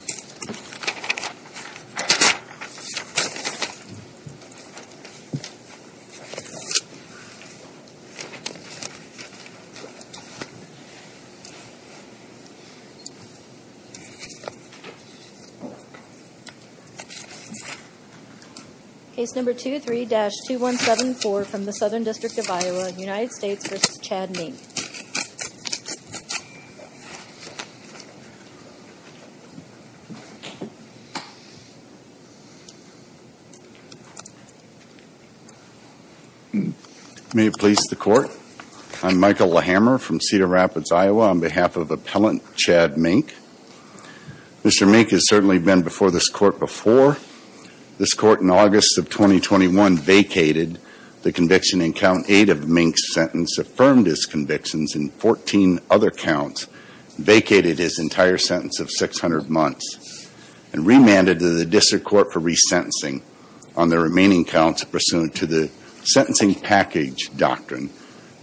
Case number 23-2174 from the Southern District of Iowa, United States v. Chad Mink. May it please the Court, I'm Michael LaHammer from Cedar Rapids, Iowa, on behalf of Appellant Chad Mink. Mr. Mink has certainly been before this Court before. This Court in August of 2014. Mr. Mink, on behalf of Appellant Chad Mink, was sentenced to six months in prison and was remanded to the District Court for re-sentencing on the remaining counts pursuant to the Sentencing Package Doctrine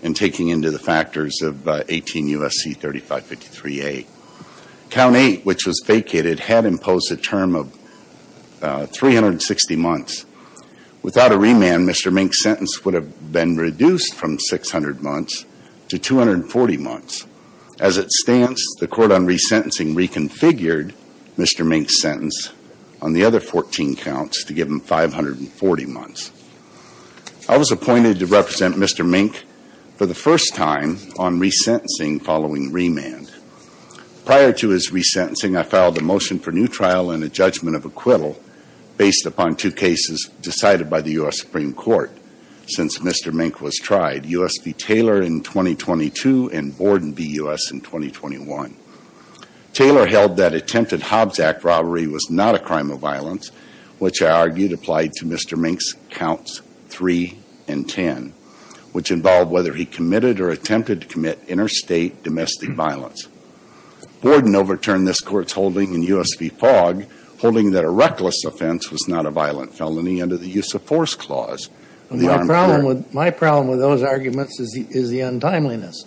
and taking into the factors of 18 U.S.C. 3553A. Count eight, which was vacated, had imposed a term of 360 months. Without a remand, Mr. Mink's been reduced from 600 months to 240 months. As it stands, the Court on re-sentencing reconfigured Mr. Mink's sentence on the other 14 counts to give him 540 months. I was appointed to represent Mr. Mink for the first time on re-sentencing following remand. Prior to his re-sentencing, I filed a motion for new trial and a judgment of acquittal based upon two cases decided by the U.S. Supreme Court since Mr. Mink was tried, U.S. v. Taylor in 2022 and Borden v. U.S. in 2021. Taylor held that attempted Hobbs Act robbery was not a crime of violence, which I argued applied to Mr. Mink's counts three and ten, which involved whether he committed or attempted to commit interstate domestic violence. Borden overturned this Court's holding in U.S. v. Fogg holding that a reckless offense was not a violent felony under the use of force clause. My problem with those arguments is the untimeliness,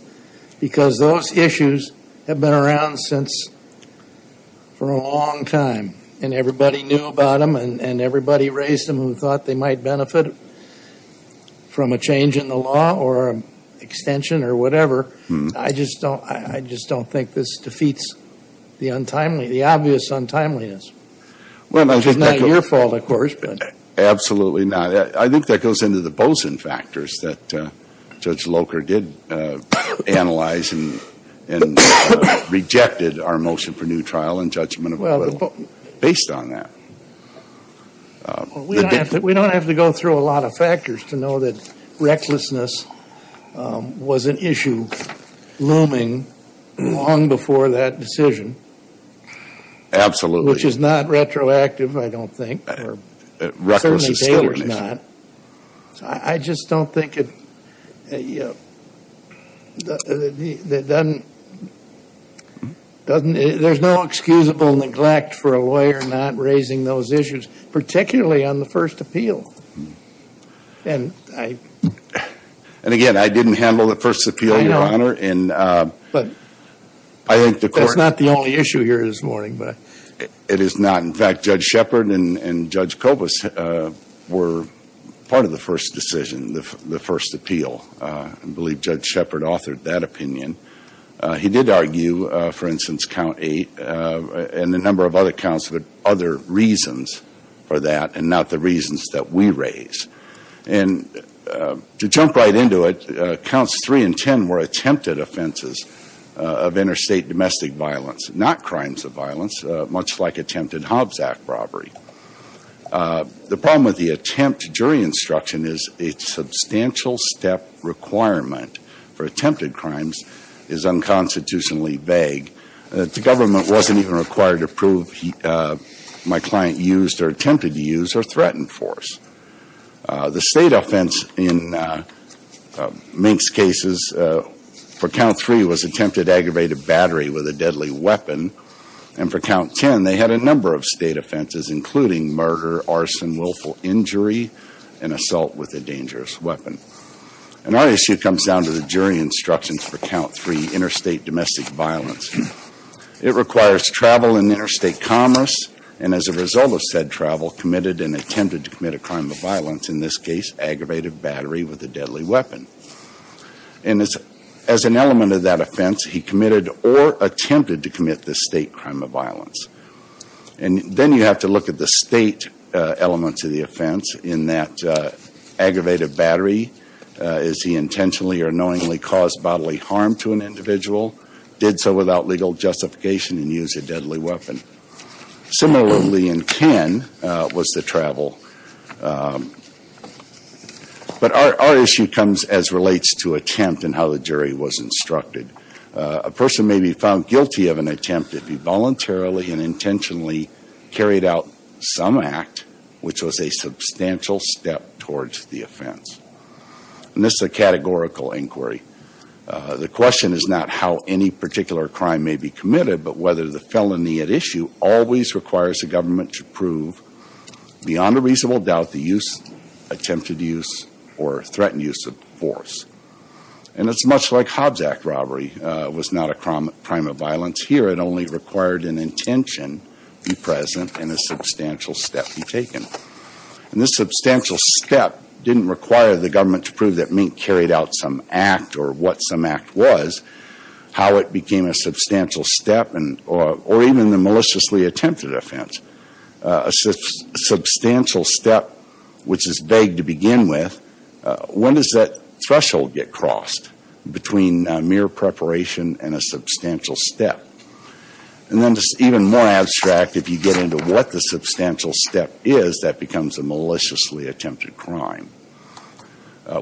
because those issues have been around since for a long time, and everybody knew about them, and everybody raised them who thought they might benefit from a change in the law or an extension or whatever. I just don't think this defeats the obvious untimeliness. It's not your fault, of course, but… Absolutely not. I think that goes into the Bozin factors that Judge Locher did analyze and rejected our motion for new trial and judgment of acquittal based on that. Well, we don't have to go through a lot of factors to know that recklessness was an issue looming long before that decision… Absolutely.… which is not retroactive, I don't think, or certainly data is not. Recklessness still is. I just don't think it doesn't… there's no excusable neglect for a lawyer not raising those issues, particularly on the first appeal. And, again, I didn't handle the first appeal, Your Honor, and I think the court… That's not the only issue here this morning. It is not. In fact, Judge Shepard and Judge Kobus were part of the first decision, the first appeal. I believe Judge Shepard authored that opinion. He did argue, for instance, Count 8 and a number of other counts with other reasons for that and not the reasons that we raise. And to jump right into it, Counts 3 and 10 were attempted offenses of interstate domestic violence, not crimes of violence, much like attempted Hobbs Act robbery. The problem with the attempt jury instruction is a substantial step requirement for attempted crimes is unconstitutionally vague. The government wasn't even required to prove my client used or attempted to use or threatened force. The state offense in Mink's cases for Count 3 was attempted aggravated battery with a deadly weapon. And for Count 10, they had a number of state offenses, including murder, arson, willful injury, and assault with a dangerous weapon. And our issue comes down to the jury instructions for Count 3, interstate domestic violence. It requires travel and interstate commerce. And as a result of said travel, committed and attempted to commit a crime of violence, in this case, aggravated battery with a deadly weapon. And as an element of that offense, he committed or attempted to commit the state crime of violence. And then you have to look at the state elements of the offense in that aggravated battery. Is he intentionally or knowingly caused bodily harm to an individual? Did so without legal justification and use a deadly weapon? Similarly in 10 was the travel. But our issue comes as relates to attempt and how the jury was instructed. A person may be found guilty of an attempt if he voluntarily and intentionally carried out some act which was a substantial step towards the offense. And this is a categorical inquiry. The question is not how any particular crime may be committed, but whether the felony at issue always requires the government to prove beyond a reasonable doubt the use, attempted use, or threatened use of force. And it's much like Hobbs Act robbery was not a crime of violence. Here it only required an intention be present and a substantial step be taken. And this substantial step didn't require the government to prove that Mink carried out some act or what some act was, how it became a substantial step or even the maliciously attempted offense. A substantial step which is begged to begin with, when does that threshold get crossed between mere preparation and a substantial step? And then just even more abstract, if you get into what the substantial step is, that becomes a maliciously attempted crime.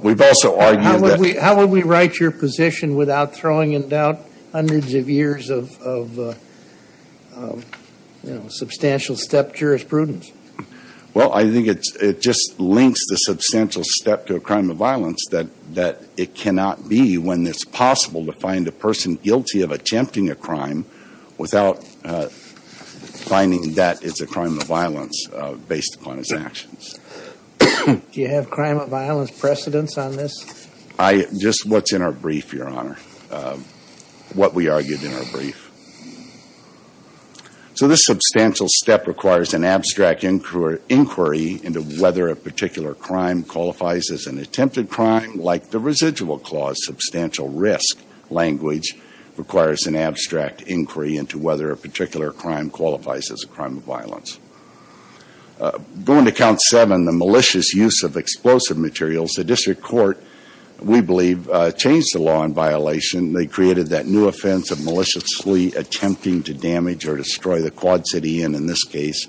We've also argued that How would we write your position without throwing in doubt hundreds of years of, you know, substantial step jurisprudence? Well, I think it just links the substantial step to a crime of violence that it cannot be when it's possible to find a person guilty of attempting a crime without finding that it's a crime of violence based upon his actions. Do you have crime of violence precedents on this? Just what's in our brief, Your Honor, what we argued in our brief. So this substantial step requires an abstract inquiry into whether a particular crime qualifies as an attempted crime like the residual clause, substantial risk language requires an abstract inquiry into whether a particular crime qualifies as a crime of violence. Going to count seven, the malicious use of explosive materials, the district court, we believe, changed the law in violation. They created that new offense of maliciously attempting to damage or destroy the Quad City Inn in this case.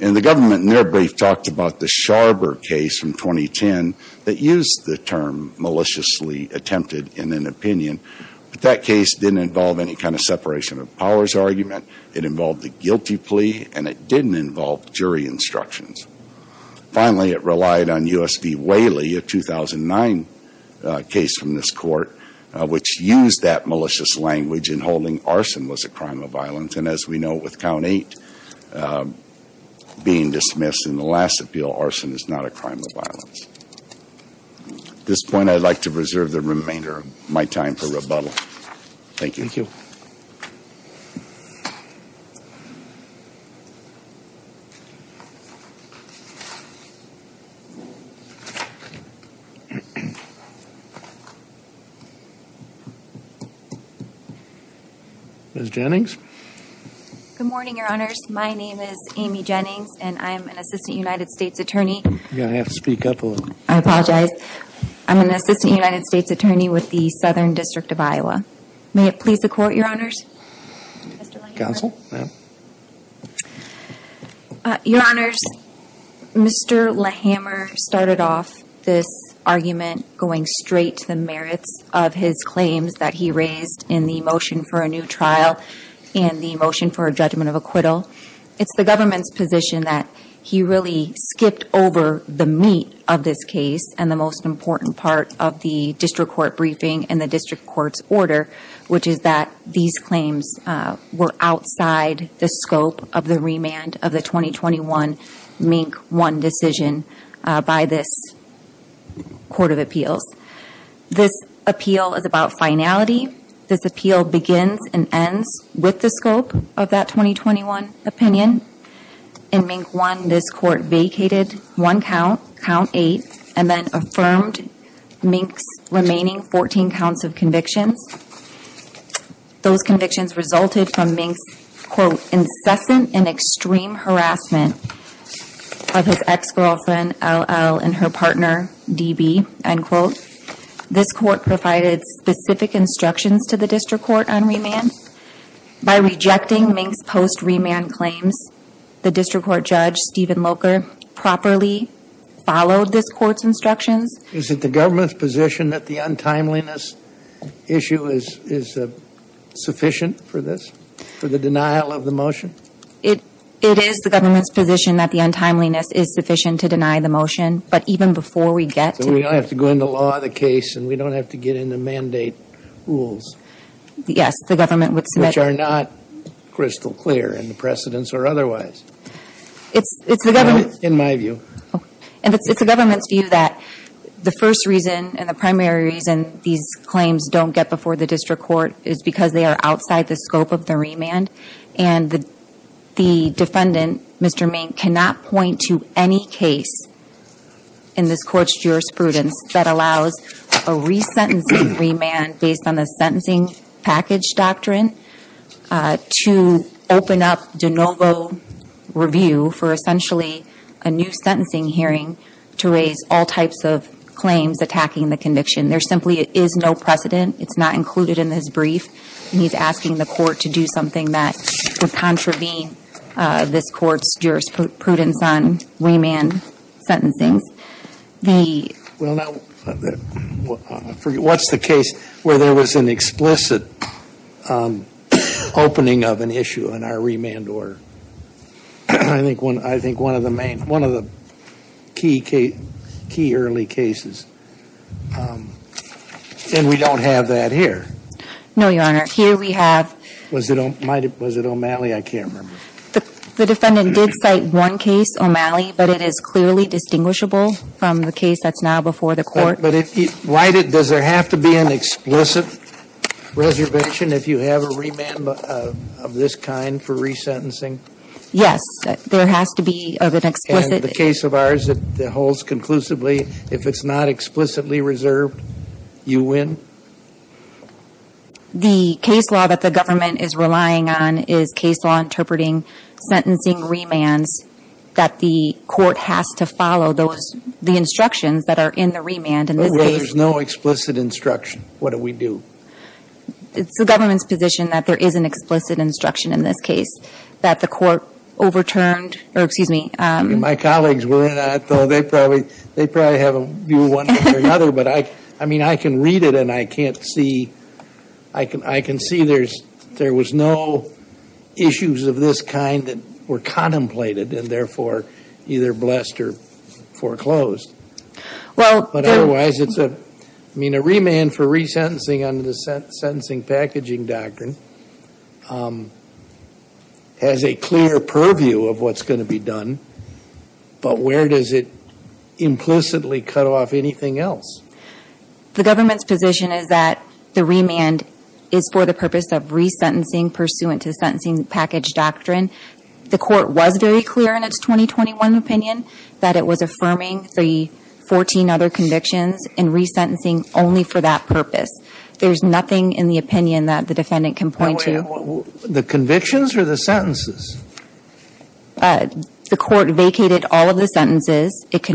And the government in their brief talked about the Sharber case from 2010 that used the term maliciously attempted in an opinion. But that case didn't involve any kind of separation of powers argument. It involved a guilty plea and it didn't involve jury instructions. Finally it relied on U.S. v. Whaley, a 2009 case from this court, which used that malicious language in holding arson was a crime of violence. And as we know with count eight being dismissed in the last appeal, arson is not a crime of violence. This point I'd like to reserve the remainder of my time for rebuttal. Thank you. Ms. Jennings? Good morning, Your Honors. My name is Amy Jennings and I'm an assistant United States attorney. You're going to have to speak up a little. I apologize. I'm an assistant United States attorney with the Southern District of Iowa. May it please the Court, Your Honors? Mr. Lehammer? Counsel, ma'am. Your Honors, Mr. Lehammer started off this argument going straight to the merits of his claims that he raised in the motion for a new trial and the motion for a judgment of acquittal. It's the government's position that he really skipped over the meat of this case and the most important part of the district court briefing and the district court's order, which is that these claims were outside the scope of the remand of the 2021 MINK 1 decision by this Court of Appeals. This appeal is about finality. This appeal begins and ends with the scope of that 2021 opinion. In MINK 1, this Court vacated one count, count eight, and then affirmed MINK's remaining 14 counts of convictions. Those convictions resulted from MINK's, quote, incessant and extreme harassment of his ex-girlfriend, L.L., and her partner, D.B., end quote. This Court provided specific instructions to the district court on remand. By rejecting MINK's post-remand claims, the district court judge, Stephen Locher, properly followed this Court's instructions. Is it the government's position that the untimeliness issue is sufficient for this, for the denial of the motion? It is the government's position that the untimeliness is sufficient to deny the motion, but even before we get to the court. So we don't have to go into law the case and we don't have to get into mandate rules. Yes, the government would submit. Which are not crystal clear in the precedence or otherwise. It's the government's. In my view. And it's the government's view that the first reason and the primary reason these claims don't get before the district court is because they are outside the scope of the remand. And the defendant, Mr. MINK, cannot point to any case in this Court's jurisprudence that allows a resentencing remand based on the sentencing package doctrine to open up de novo review for essentially a new sentencing hearing to raise all types of claims attacking the conviction. There simply is no precedent. It's not included in this brief. He's asking the Court to do something that would contravene this Court's jurisprudence on remand sentencing. What's the case where there was an explicit opening of an issue in our remand order? I think one of the key early cases. And we don't have that here. No, Your Honor. Here we have. Was it O'Malley? I can't remember. The defendant did cite one case, O'Malley, but it is clearly distinguishable from the case that's now before the Court. But does there have to be an explicit reservation if you have a remand of this kind for resentencing? Yes. There has to be an explicit. And the case of ours that holds conclusively, if it's not explicitly reserved, you win? The case law that the government is relying on is case law interpreting sentencing remands that the Court has to follow the instructions that are in the remand in this case. Well, there's no explicit instruction. What do we do? It's the government's position that there is an explicit instruction in this case that the Court overturned. Excuse me. My colleagues were in on it, though. They probably have a view one way or another. I can read it, and I can see there was no issues of this kind that were contemplated and, therefore, either blessed or foreclosed. But otherwise, a remand for resentencing under the Sentencing Packaging Doctrine has a clear purview of what's going to be done, but where does it implicitly cut off anything else? The government's position is that the remand is for the purpose of resentencing pursuant to the Sentencing Package Doctrine. The Court was very clear in its 2021 opinion that it was affirming the 14 other convictions and resentencing only for that purpose. There's nothing in the opinion that the defendant can point to. The convictions or the sentences? The Court vacated all of the sentences. It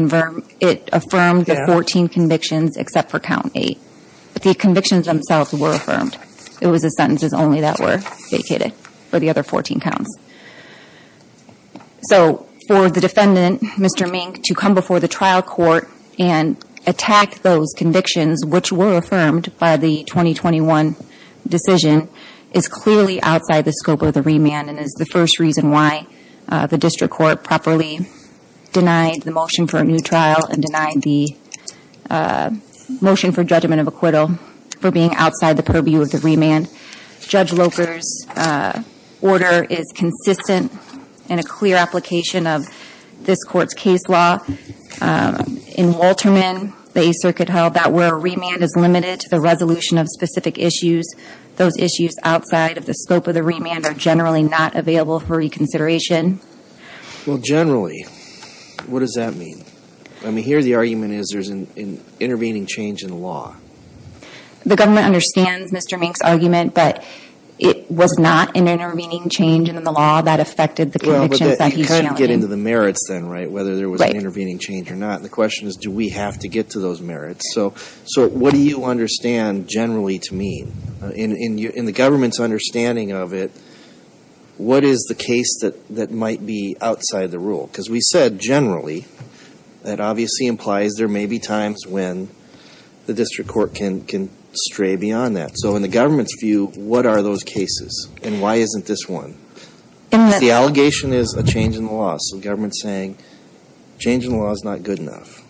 affirmed the 14 convictions except for Count 8. The convictions themselves were affirmed. It was the sentences only that were vacated for the other 14 counts. So for the defendant, Mr. Mink, to come before the trial court and attack those convictions which were affirmed by the 2021 decision is clearly outside the scope of the remand and is the first reason why the District Court properly denied the motion for a new trial and denied the motion for judgment of acquittal for being outside the purview of the remand. Judge Locher's order is consistent in a clear application of this Court's case law. In Walterman, the Eighth Circuit held that where a remand is limited to the resolution of specific issues, those issues outside of the scope of the remand are generally not available for reconsideration. Well, generally, what does that mean? I mean, here the argument is there's an intervening change in the law. The government understands Mr. Mink's argument that it was not an intervening change in the law that affected the convictions that he's challenging. Well, but he could get into the merits then, right, whether there was an intervening change or not. The question is, do we have to get to those merits? So what do you understand generally to mean? In the government's understanding of it, what is the case that might be outside the rule? Because we said generally. That obviously implies there may be times when the District Court can stray beyond that. So in the government's view, what are those cases and why isn't this one? The allegation is a change in the law. So the government is saying a change in the law is not good enough.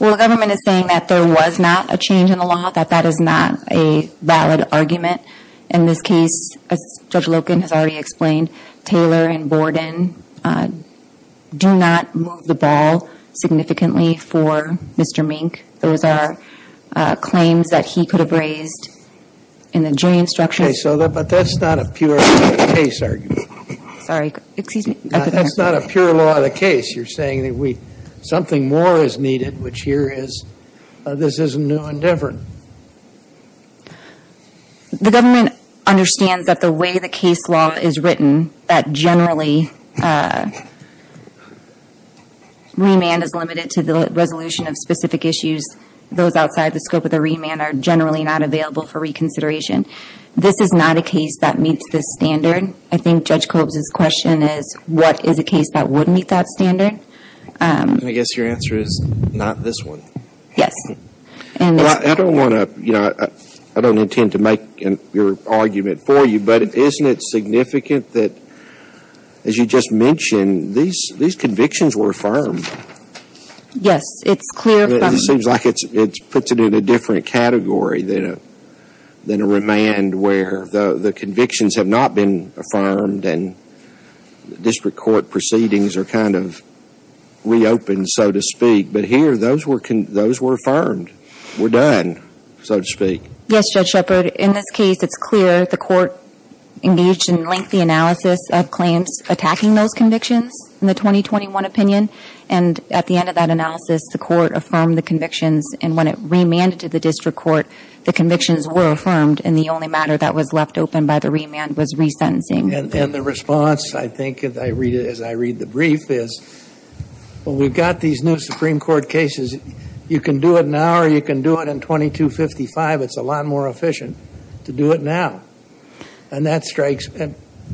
Well, the government is saying that there was not a change in the law, that that is not a valid argument. In this case, as Judge Loken has already explained, Taylor and Borden do not move the ball significantly for Mr. Mink. Those are claims that he could have raised in the jury instruction. Okay, but that's not a pure case argument. Sorry, excuse me. That's not a pure law of the case. You're saying that something more is needed, which here is this is a new endeavor. The government understands that the way the case law is written, that generally remand is limited to the resolution of specific issues. Those outside the scope of the remand are generally not available for reconsideration. This is not a case that meets this standard. I think Judge Kolb's question is what is a case that would meet that standard? I guess your answer is not this one. Yes. I don't want to, you know, I don't intend to make your argument for you, but isn't it significant that, as you just mentioned, these convictions were affirmed? Yes, it's clear from It seems like it puts it in a different category than a remand where the convictions have not been affirmed and district court proceedings are kind of reopened, so to speak. But here, those were affirmed, were done, so to speak. Yes, Judge Shepard. In this case, it's clear the court engaged in lengthy analysis of claims attacking those convictions in the 2021 opinion. And at the end of that analysis, the court affirmed the convictions. And when it remanded to the district court, the convictions were affirmed. And the only matter that was left open by the remand was resentencing. And the response, I think, as I read the brief is, well, we've got these new Supreme Court cases. You can do it now or you can do it in 2255. It's a lot more efficient to do it now. And that strikes,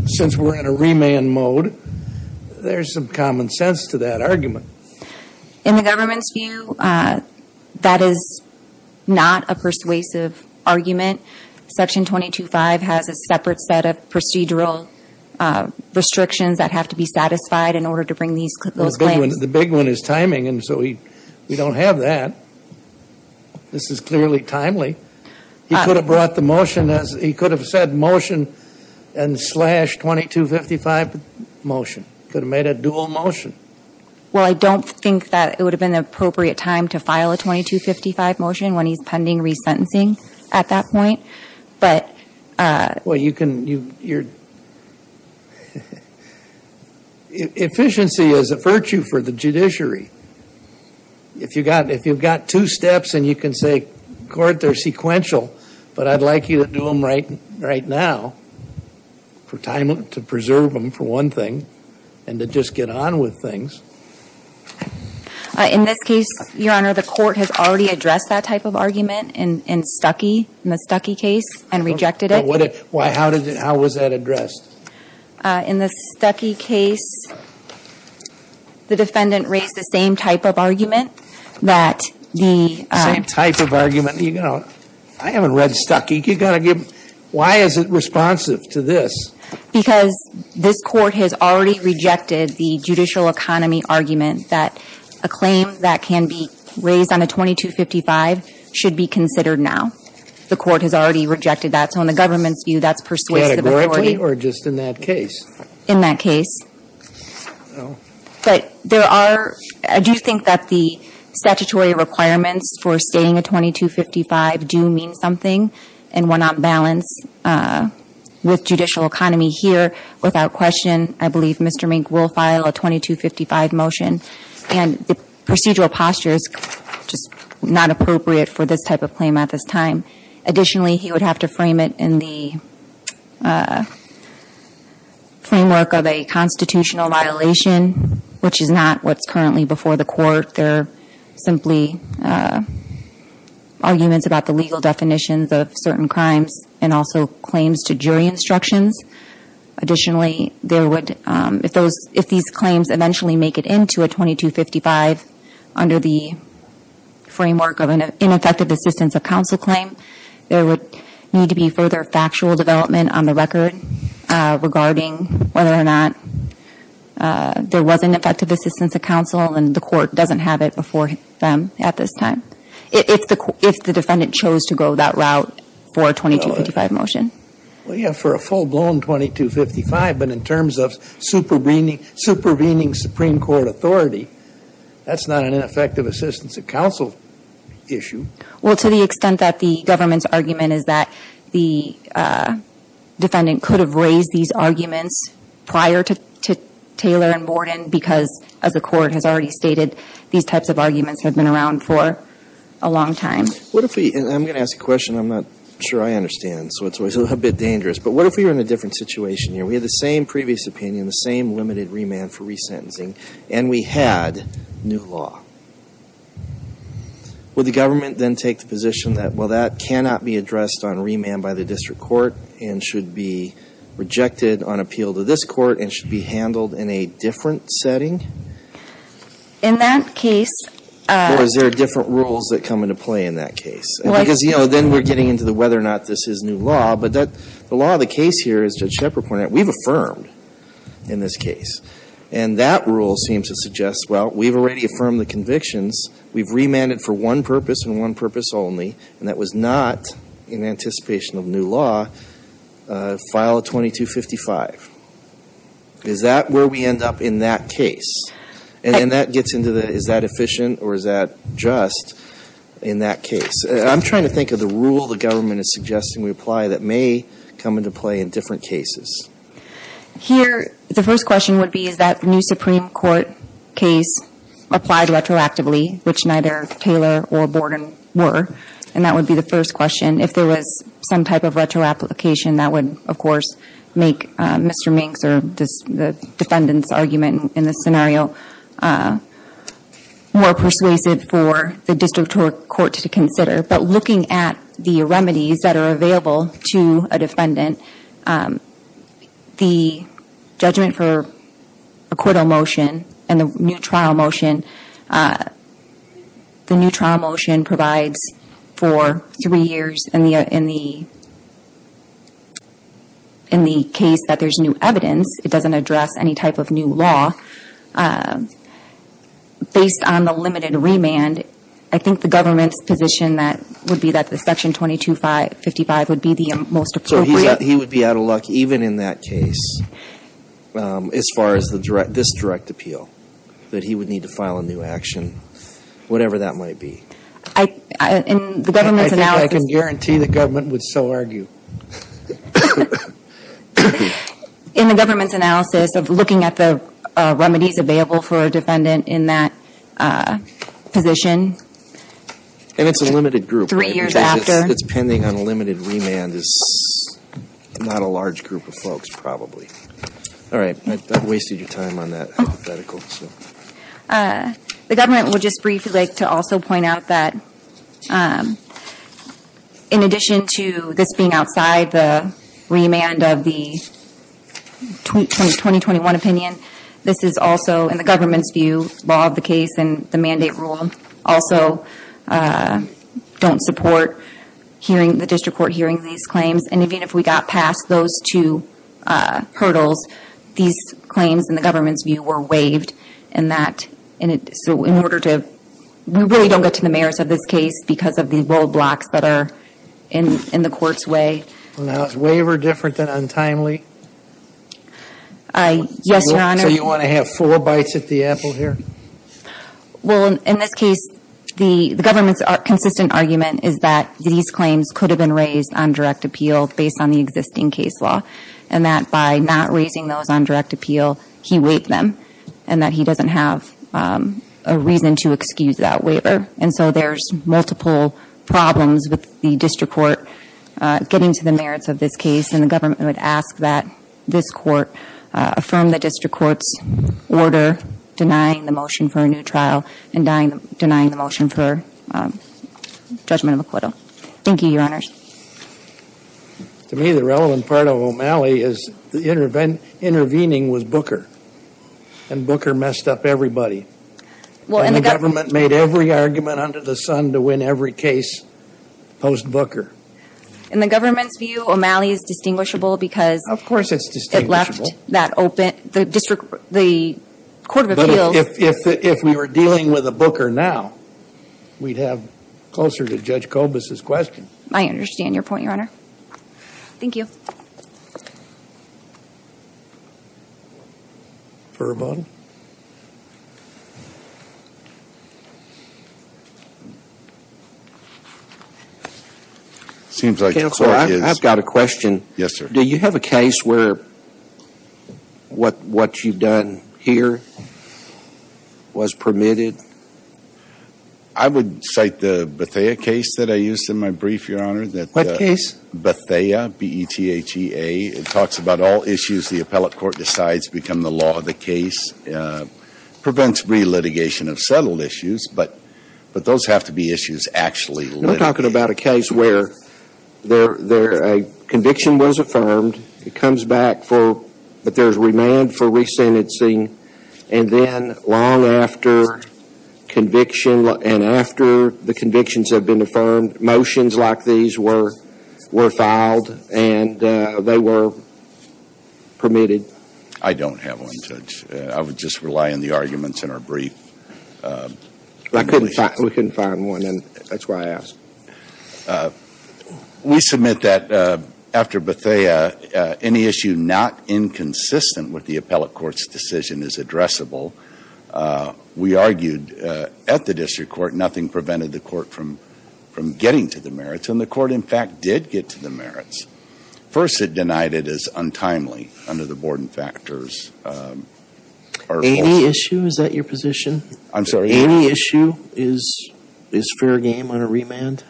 since we're in a remand mode, there's some common sense to that argument. In the government's view, that is not a persuasive argument. Section 225 has a separate set of procedural restrictions that have to be satisfied in order to bring those claims. The big one is timing, and so we don't have that. This is clearly timely. He could have brought the motion as he could have said motion and slash 2255 motion. Could have made a dual motion. Well, I don't think that it would have been the appropriate time to file a 2255 motion when he's pending resentencing at that point. Efficiency is a virtue for the judiciary. If you've got two steps and you can say, court, they're sequential, but I'd like you to do them right now, to preserve them for one thing and to just get on with things. In this case, Your Honor, the court has already addressed that type of argument in Stuckey, in the Stuckey case, and rejected it. How was that addressed? In the Stuckey case, the defendant raised the same type of argument that the ‑‑ Same type of argument. You know, I haven't read Stuckey. You've got to give ‑‑ why is it responsive to this? Because this court has already rejected the judicial economy argument that a claim that can be raised on a 2255 should be considered now. The court has already rejected that. So in the government's view, that's persuasive authority. Or just in that case? In that case. But there are ‑‑ I do think that the statutory requirements for stating a 2255 do mean something. And we're not balanced with judicial economy here. Without question, I believe Mr. Mink will file a 2255 motion. And the procedural posture is just not appropriate for this type of claim at this time. Additionally, he would have to frame it in the framework of a constitutional violation, which is not what's currently before the court. They're simply arguments about the legal definitions of certain crimes and also claims to jury instructions. Additionally, there would ‑‑ if these claims eventually make it into a 2255 under the framework of an ineffective assistance of counsel claim, there would need to be further factual development on the record regarding whether or not there was ineffective assistance of counsel and the court doesn't have it before them at this time. If the defendant chose to go that route for a 2255 motion. Well, yeah, for a full-blown 2255, but in terms of supervening Supreme Court authority, that's not an ineffective assistance of counsel issue. Well, to the extent that the government's argument is that the defendant could have raised these arguments prior to Taylor and Borden because, as the court has already stated, these types of arguments have been around for a long time. I'm going to ask a question I'm not sure I understand, so it's always a little bit dangerous. But what if we were in a different situation here? We had the same previous opinion, the same limited remand for resentencing, and we had new law. Would the government then take the position that, well, that cannot be addressed on remand by the district court and should be rejected on appeal to this court and should be handled in a different setting? In that case ‑‑ Or is there different rules that come into play in that case? Because, you know, then we're getting into whether or not this is new law. But the law of the case here, as Judge Shepard pointed out, we've affirmed in this case. And that rule seems to suggest, well, we've already affirmed the convictions. We've remanded for one purpose and one purpose only, and that was not, in anticipation of new law, file a 2255. Is that where we end up in that case? And that gets into the, is that efficient or is that just in that case? I'm trying to think of the rule the government is suggesting we apply that may come into play in different cases. Here, the first question would be, is that new Supreme Court case applied retroactively, which neither Taylor or Borden were? And that would be the first question. If there was some type of retroapplication, that would, of course, make Mr. Minks or the defendant's argument in this scenario more persuasive for the district court to consider. But looking at the remedies that are available to a defendant, the judgment for a court of motion and the new trial motion, the new trial motion provides for three years in the case that there's new evidence. It doesn't address any type of new law. Based on the limited remand, I think the government's position would be that the Section 2255 would be the most appropriate. So he would be out of luck even in that case as far as this direct appeal, that he would need to file a new action, whatever that might be. I think I can guarantee the government would so argue. In the government's analysis of looking at the remedies available for a defendant in that position, And it's a limited group. Three years after. It's pending on a limited remand. It's not a large group of folks, probably. All right. I've wasted your time on that hypothetical. The government would just briefly like to also point out that in addition to this being outside the remand of the 2021 opinion, this is also, in the government's view, law of the case and the mandate rule, also don't support the district court hearing these claims. And even if we got past those two hurdles, these claims, in the government's view, were waived. So we really don't get to the merits of this case because of the roadblocks that are in the court's way. Now, is waiver different than untimely? Yes, Your Honor. So you want to have four bites at the apple here? Well, in this case, the government's consistent argument is that these claims could have been raised on direct appeal based on the existing case law. And that by not raising those on direct appeal, he waived them and that he doesn't have a reason to excuse that waiver. And so there's multiple problems with the district court getting to the merits of this case. And the government would ask that this court affirm the district court's order denying the motion for a new trial and denying the motion for judgment of acquittal. Thank you, Your Honors. To me, the relevant part of O'Malley is the intervening was Booker. And Booker messed up everybody. And the government made every argument under the sun to win every case post-Booker. In the government's view, O'Malley is distinguishable because it left the court of appeals. But if we were dealing with a Booker now, we'd have closer to Judge Kobus' question. I understand your point, Your Honor. Thank you. Furman? It seems like the court is— Counselor, I've got a question. Yes, sir. Do you have a case where what you've done here was permitted? I would cite the Bethea case that I used in my brief, Your Honor. Bethea, B-E-T-H-A. It talks about all issues the appellate court decides become the law of the case. Prevents re-litigation of settled issues, but those have to be issues actually litigated. We're talking about a case where a conviction was affirmed. It comes back for—but there's remand for resentencing. And then long after conviction and after the convictions have been affirmed, motions like these were filed. And they were permitted. I don't have one, Judge. I would just rely on the arguments in our brief. We couldn't find one, and that's why I asked. We submit that after Bethea, any issue not inconsistent with the appellate court's decision is addressable. We argued at the district court nothing prevented the court from getting to the merits. And the court, in fact, did get to the merits. First, it denied it as untimely under the Borden factors. Any issue—is that your position? I'm sorry? Any issue is fair game on a remand?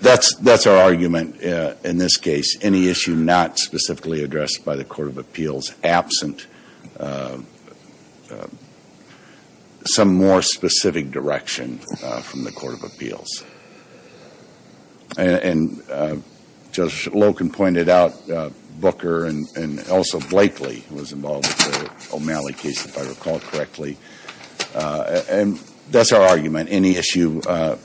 That's our argument in this case. Any issue not specifically addressed by the court of appeals, absent some more specific direction from the court of appeals. And Judge Loken pointed out Booker and also Blakely was involved with the O'Malley case, if I recall correctly. And that's our argument. Any issue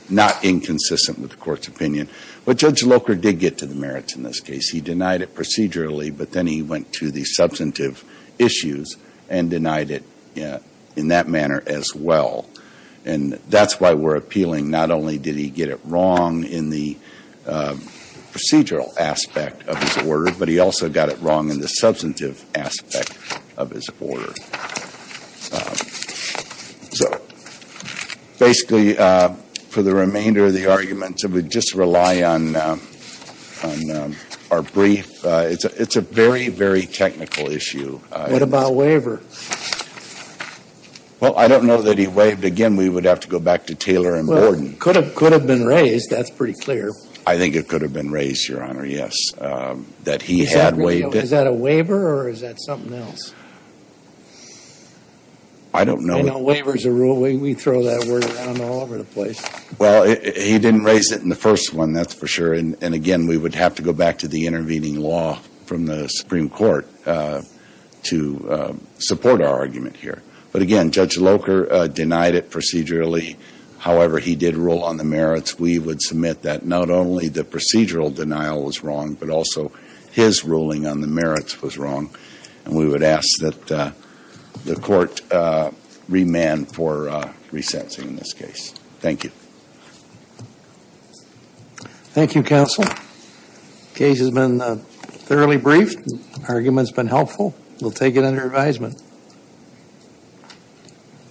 not inconsistent with the court's opinion. But Judge Loker did get to the merits in this case. He denied it procedurally, but then he went to the substantive issues and denied it in that manner as well. And that's why we're appealing. Not only did he get it wrong in the procedural aspect of his order, but he also got it wrong in the substantive aspect of his order. So basically, for the remainder of the argument, we just rely on our brief. It's a very, very technical issue. What about waiver? Again, we would have to go back to Taylor and Borden. Could have been raised. That's pretty clear. I think it could have been raised, Your Honor, yes. That he had waived it. Is that a waiver or is that something else? I don't know. Waiver's a rule. We throw that word around all over the place. Well, he didn't raise it in the first one, that's for sure. And again, we would have to go back to the intervening law from the Supreme Court to support our argument here. But again, Judge Locher denied it procedurally. However, he did rule on the merits. We would submit that not only the procedural denial was wrong, but also his ruling on the merits was wrong. And we would ask that the court remand for resensing this case. Thank you. Thank you, counsel. Case has been fairly brief. Argument's been helpful. We'll take it under advisement.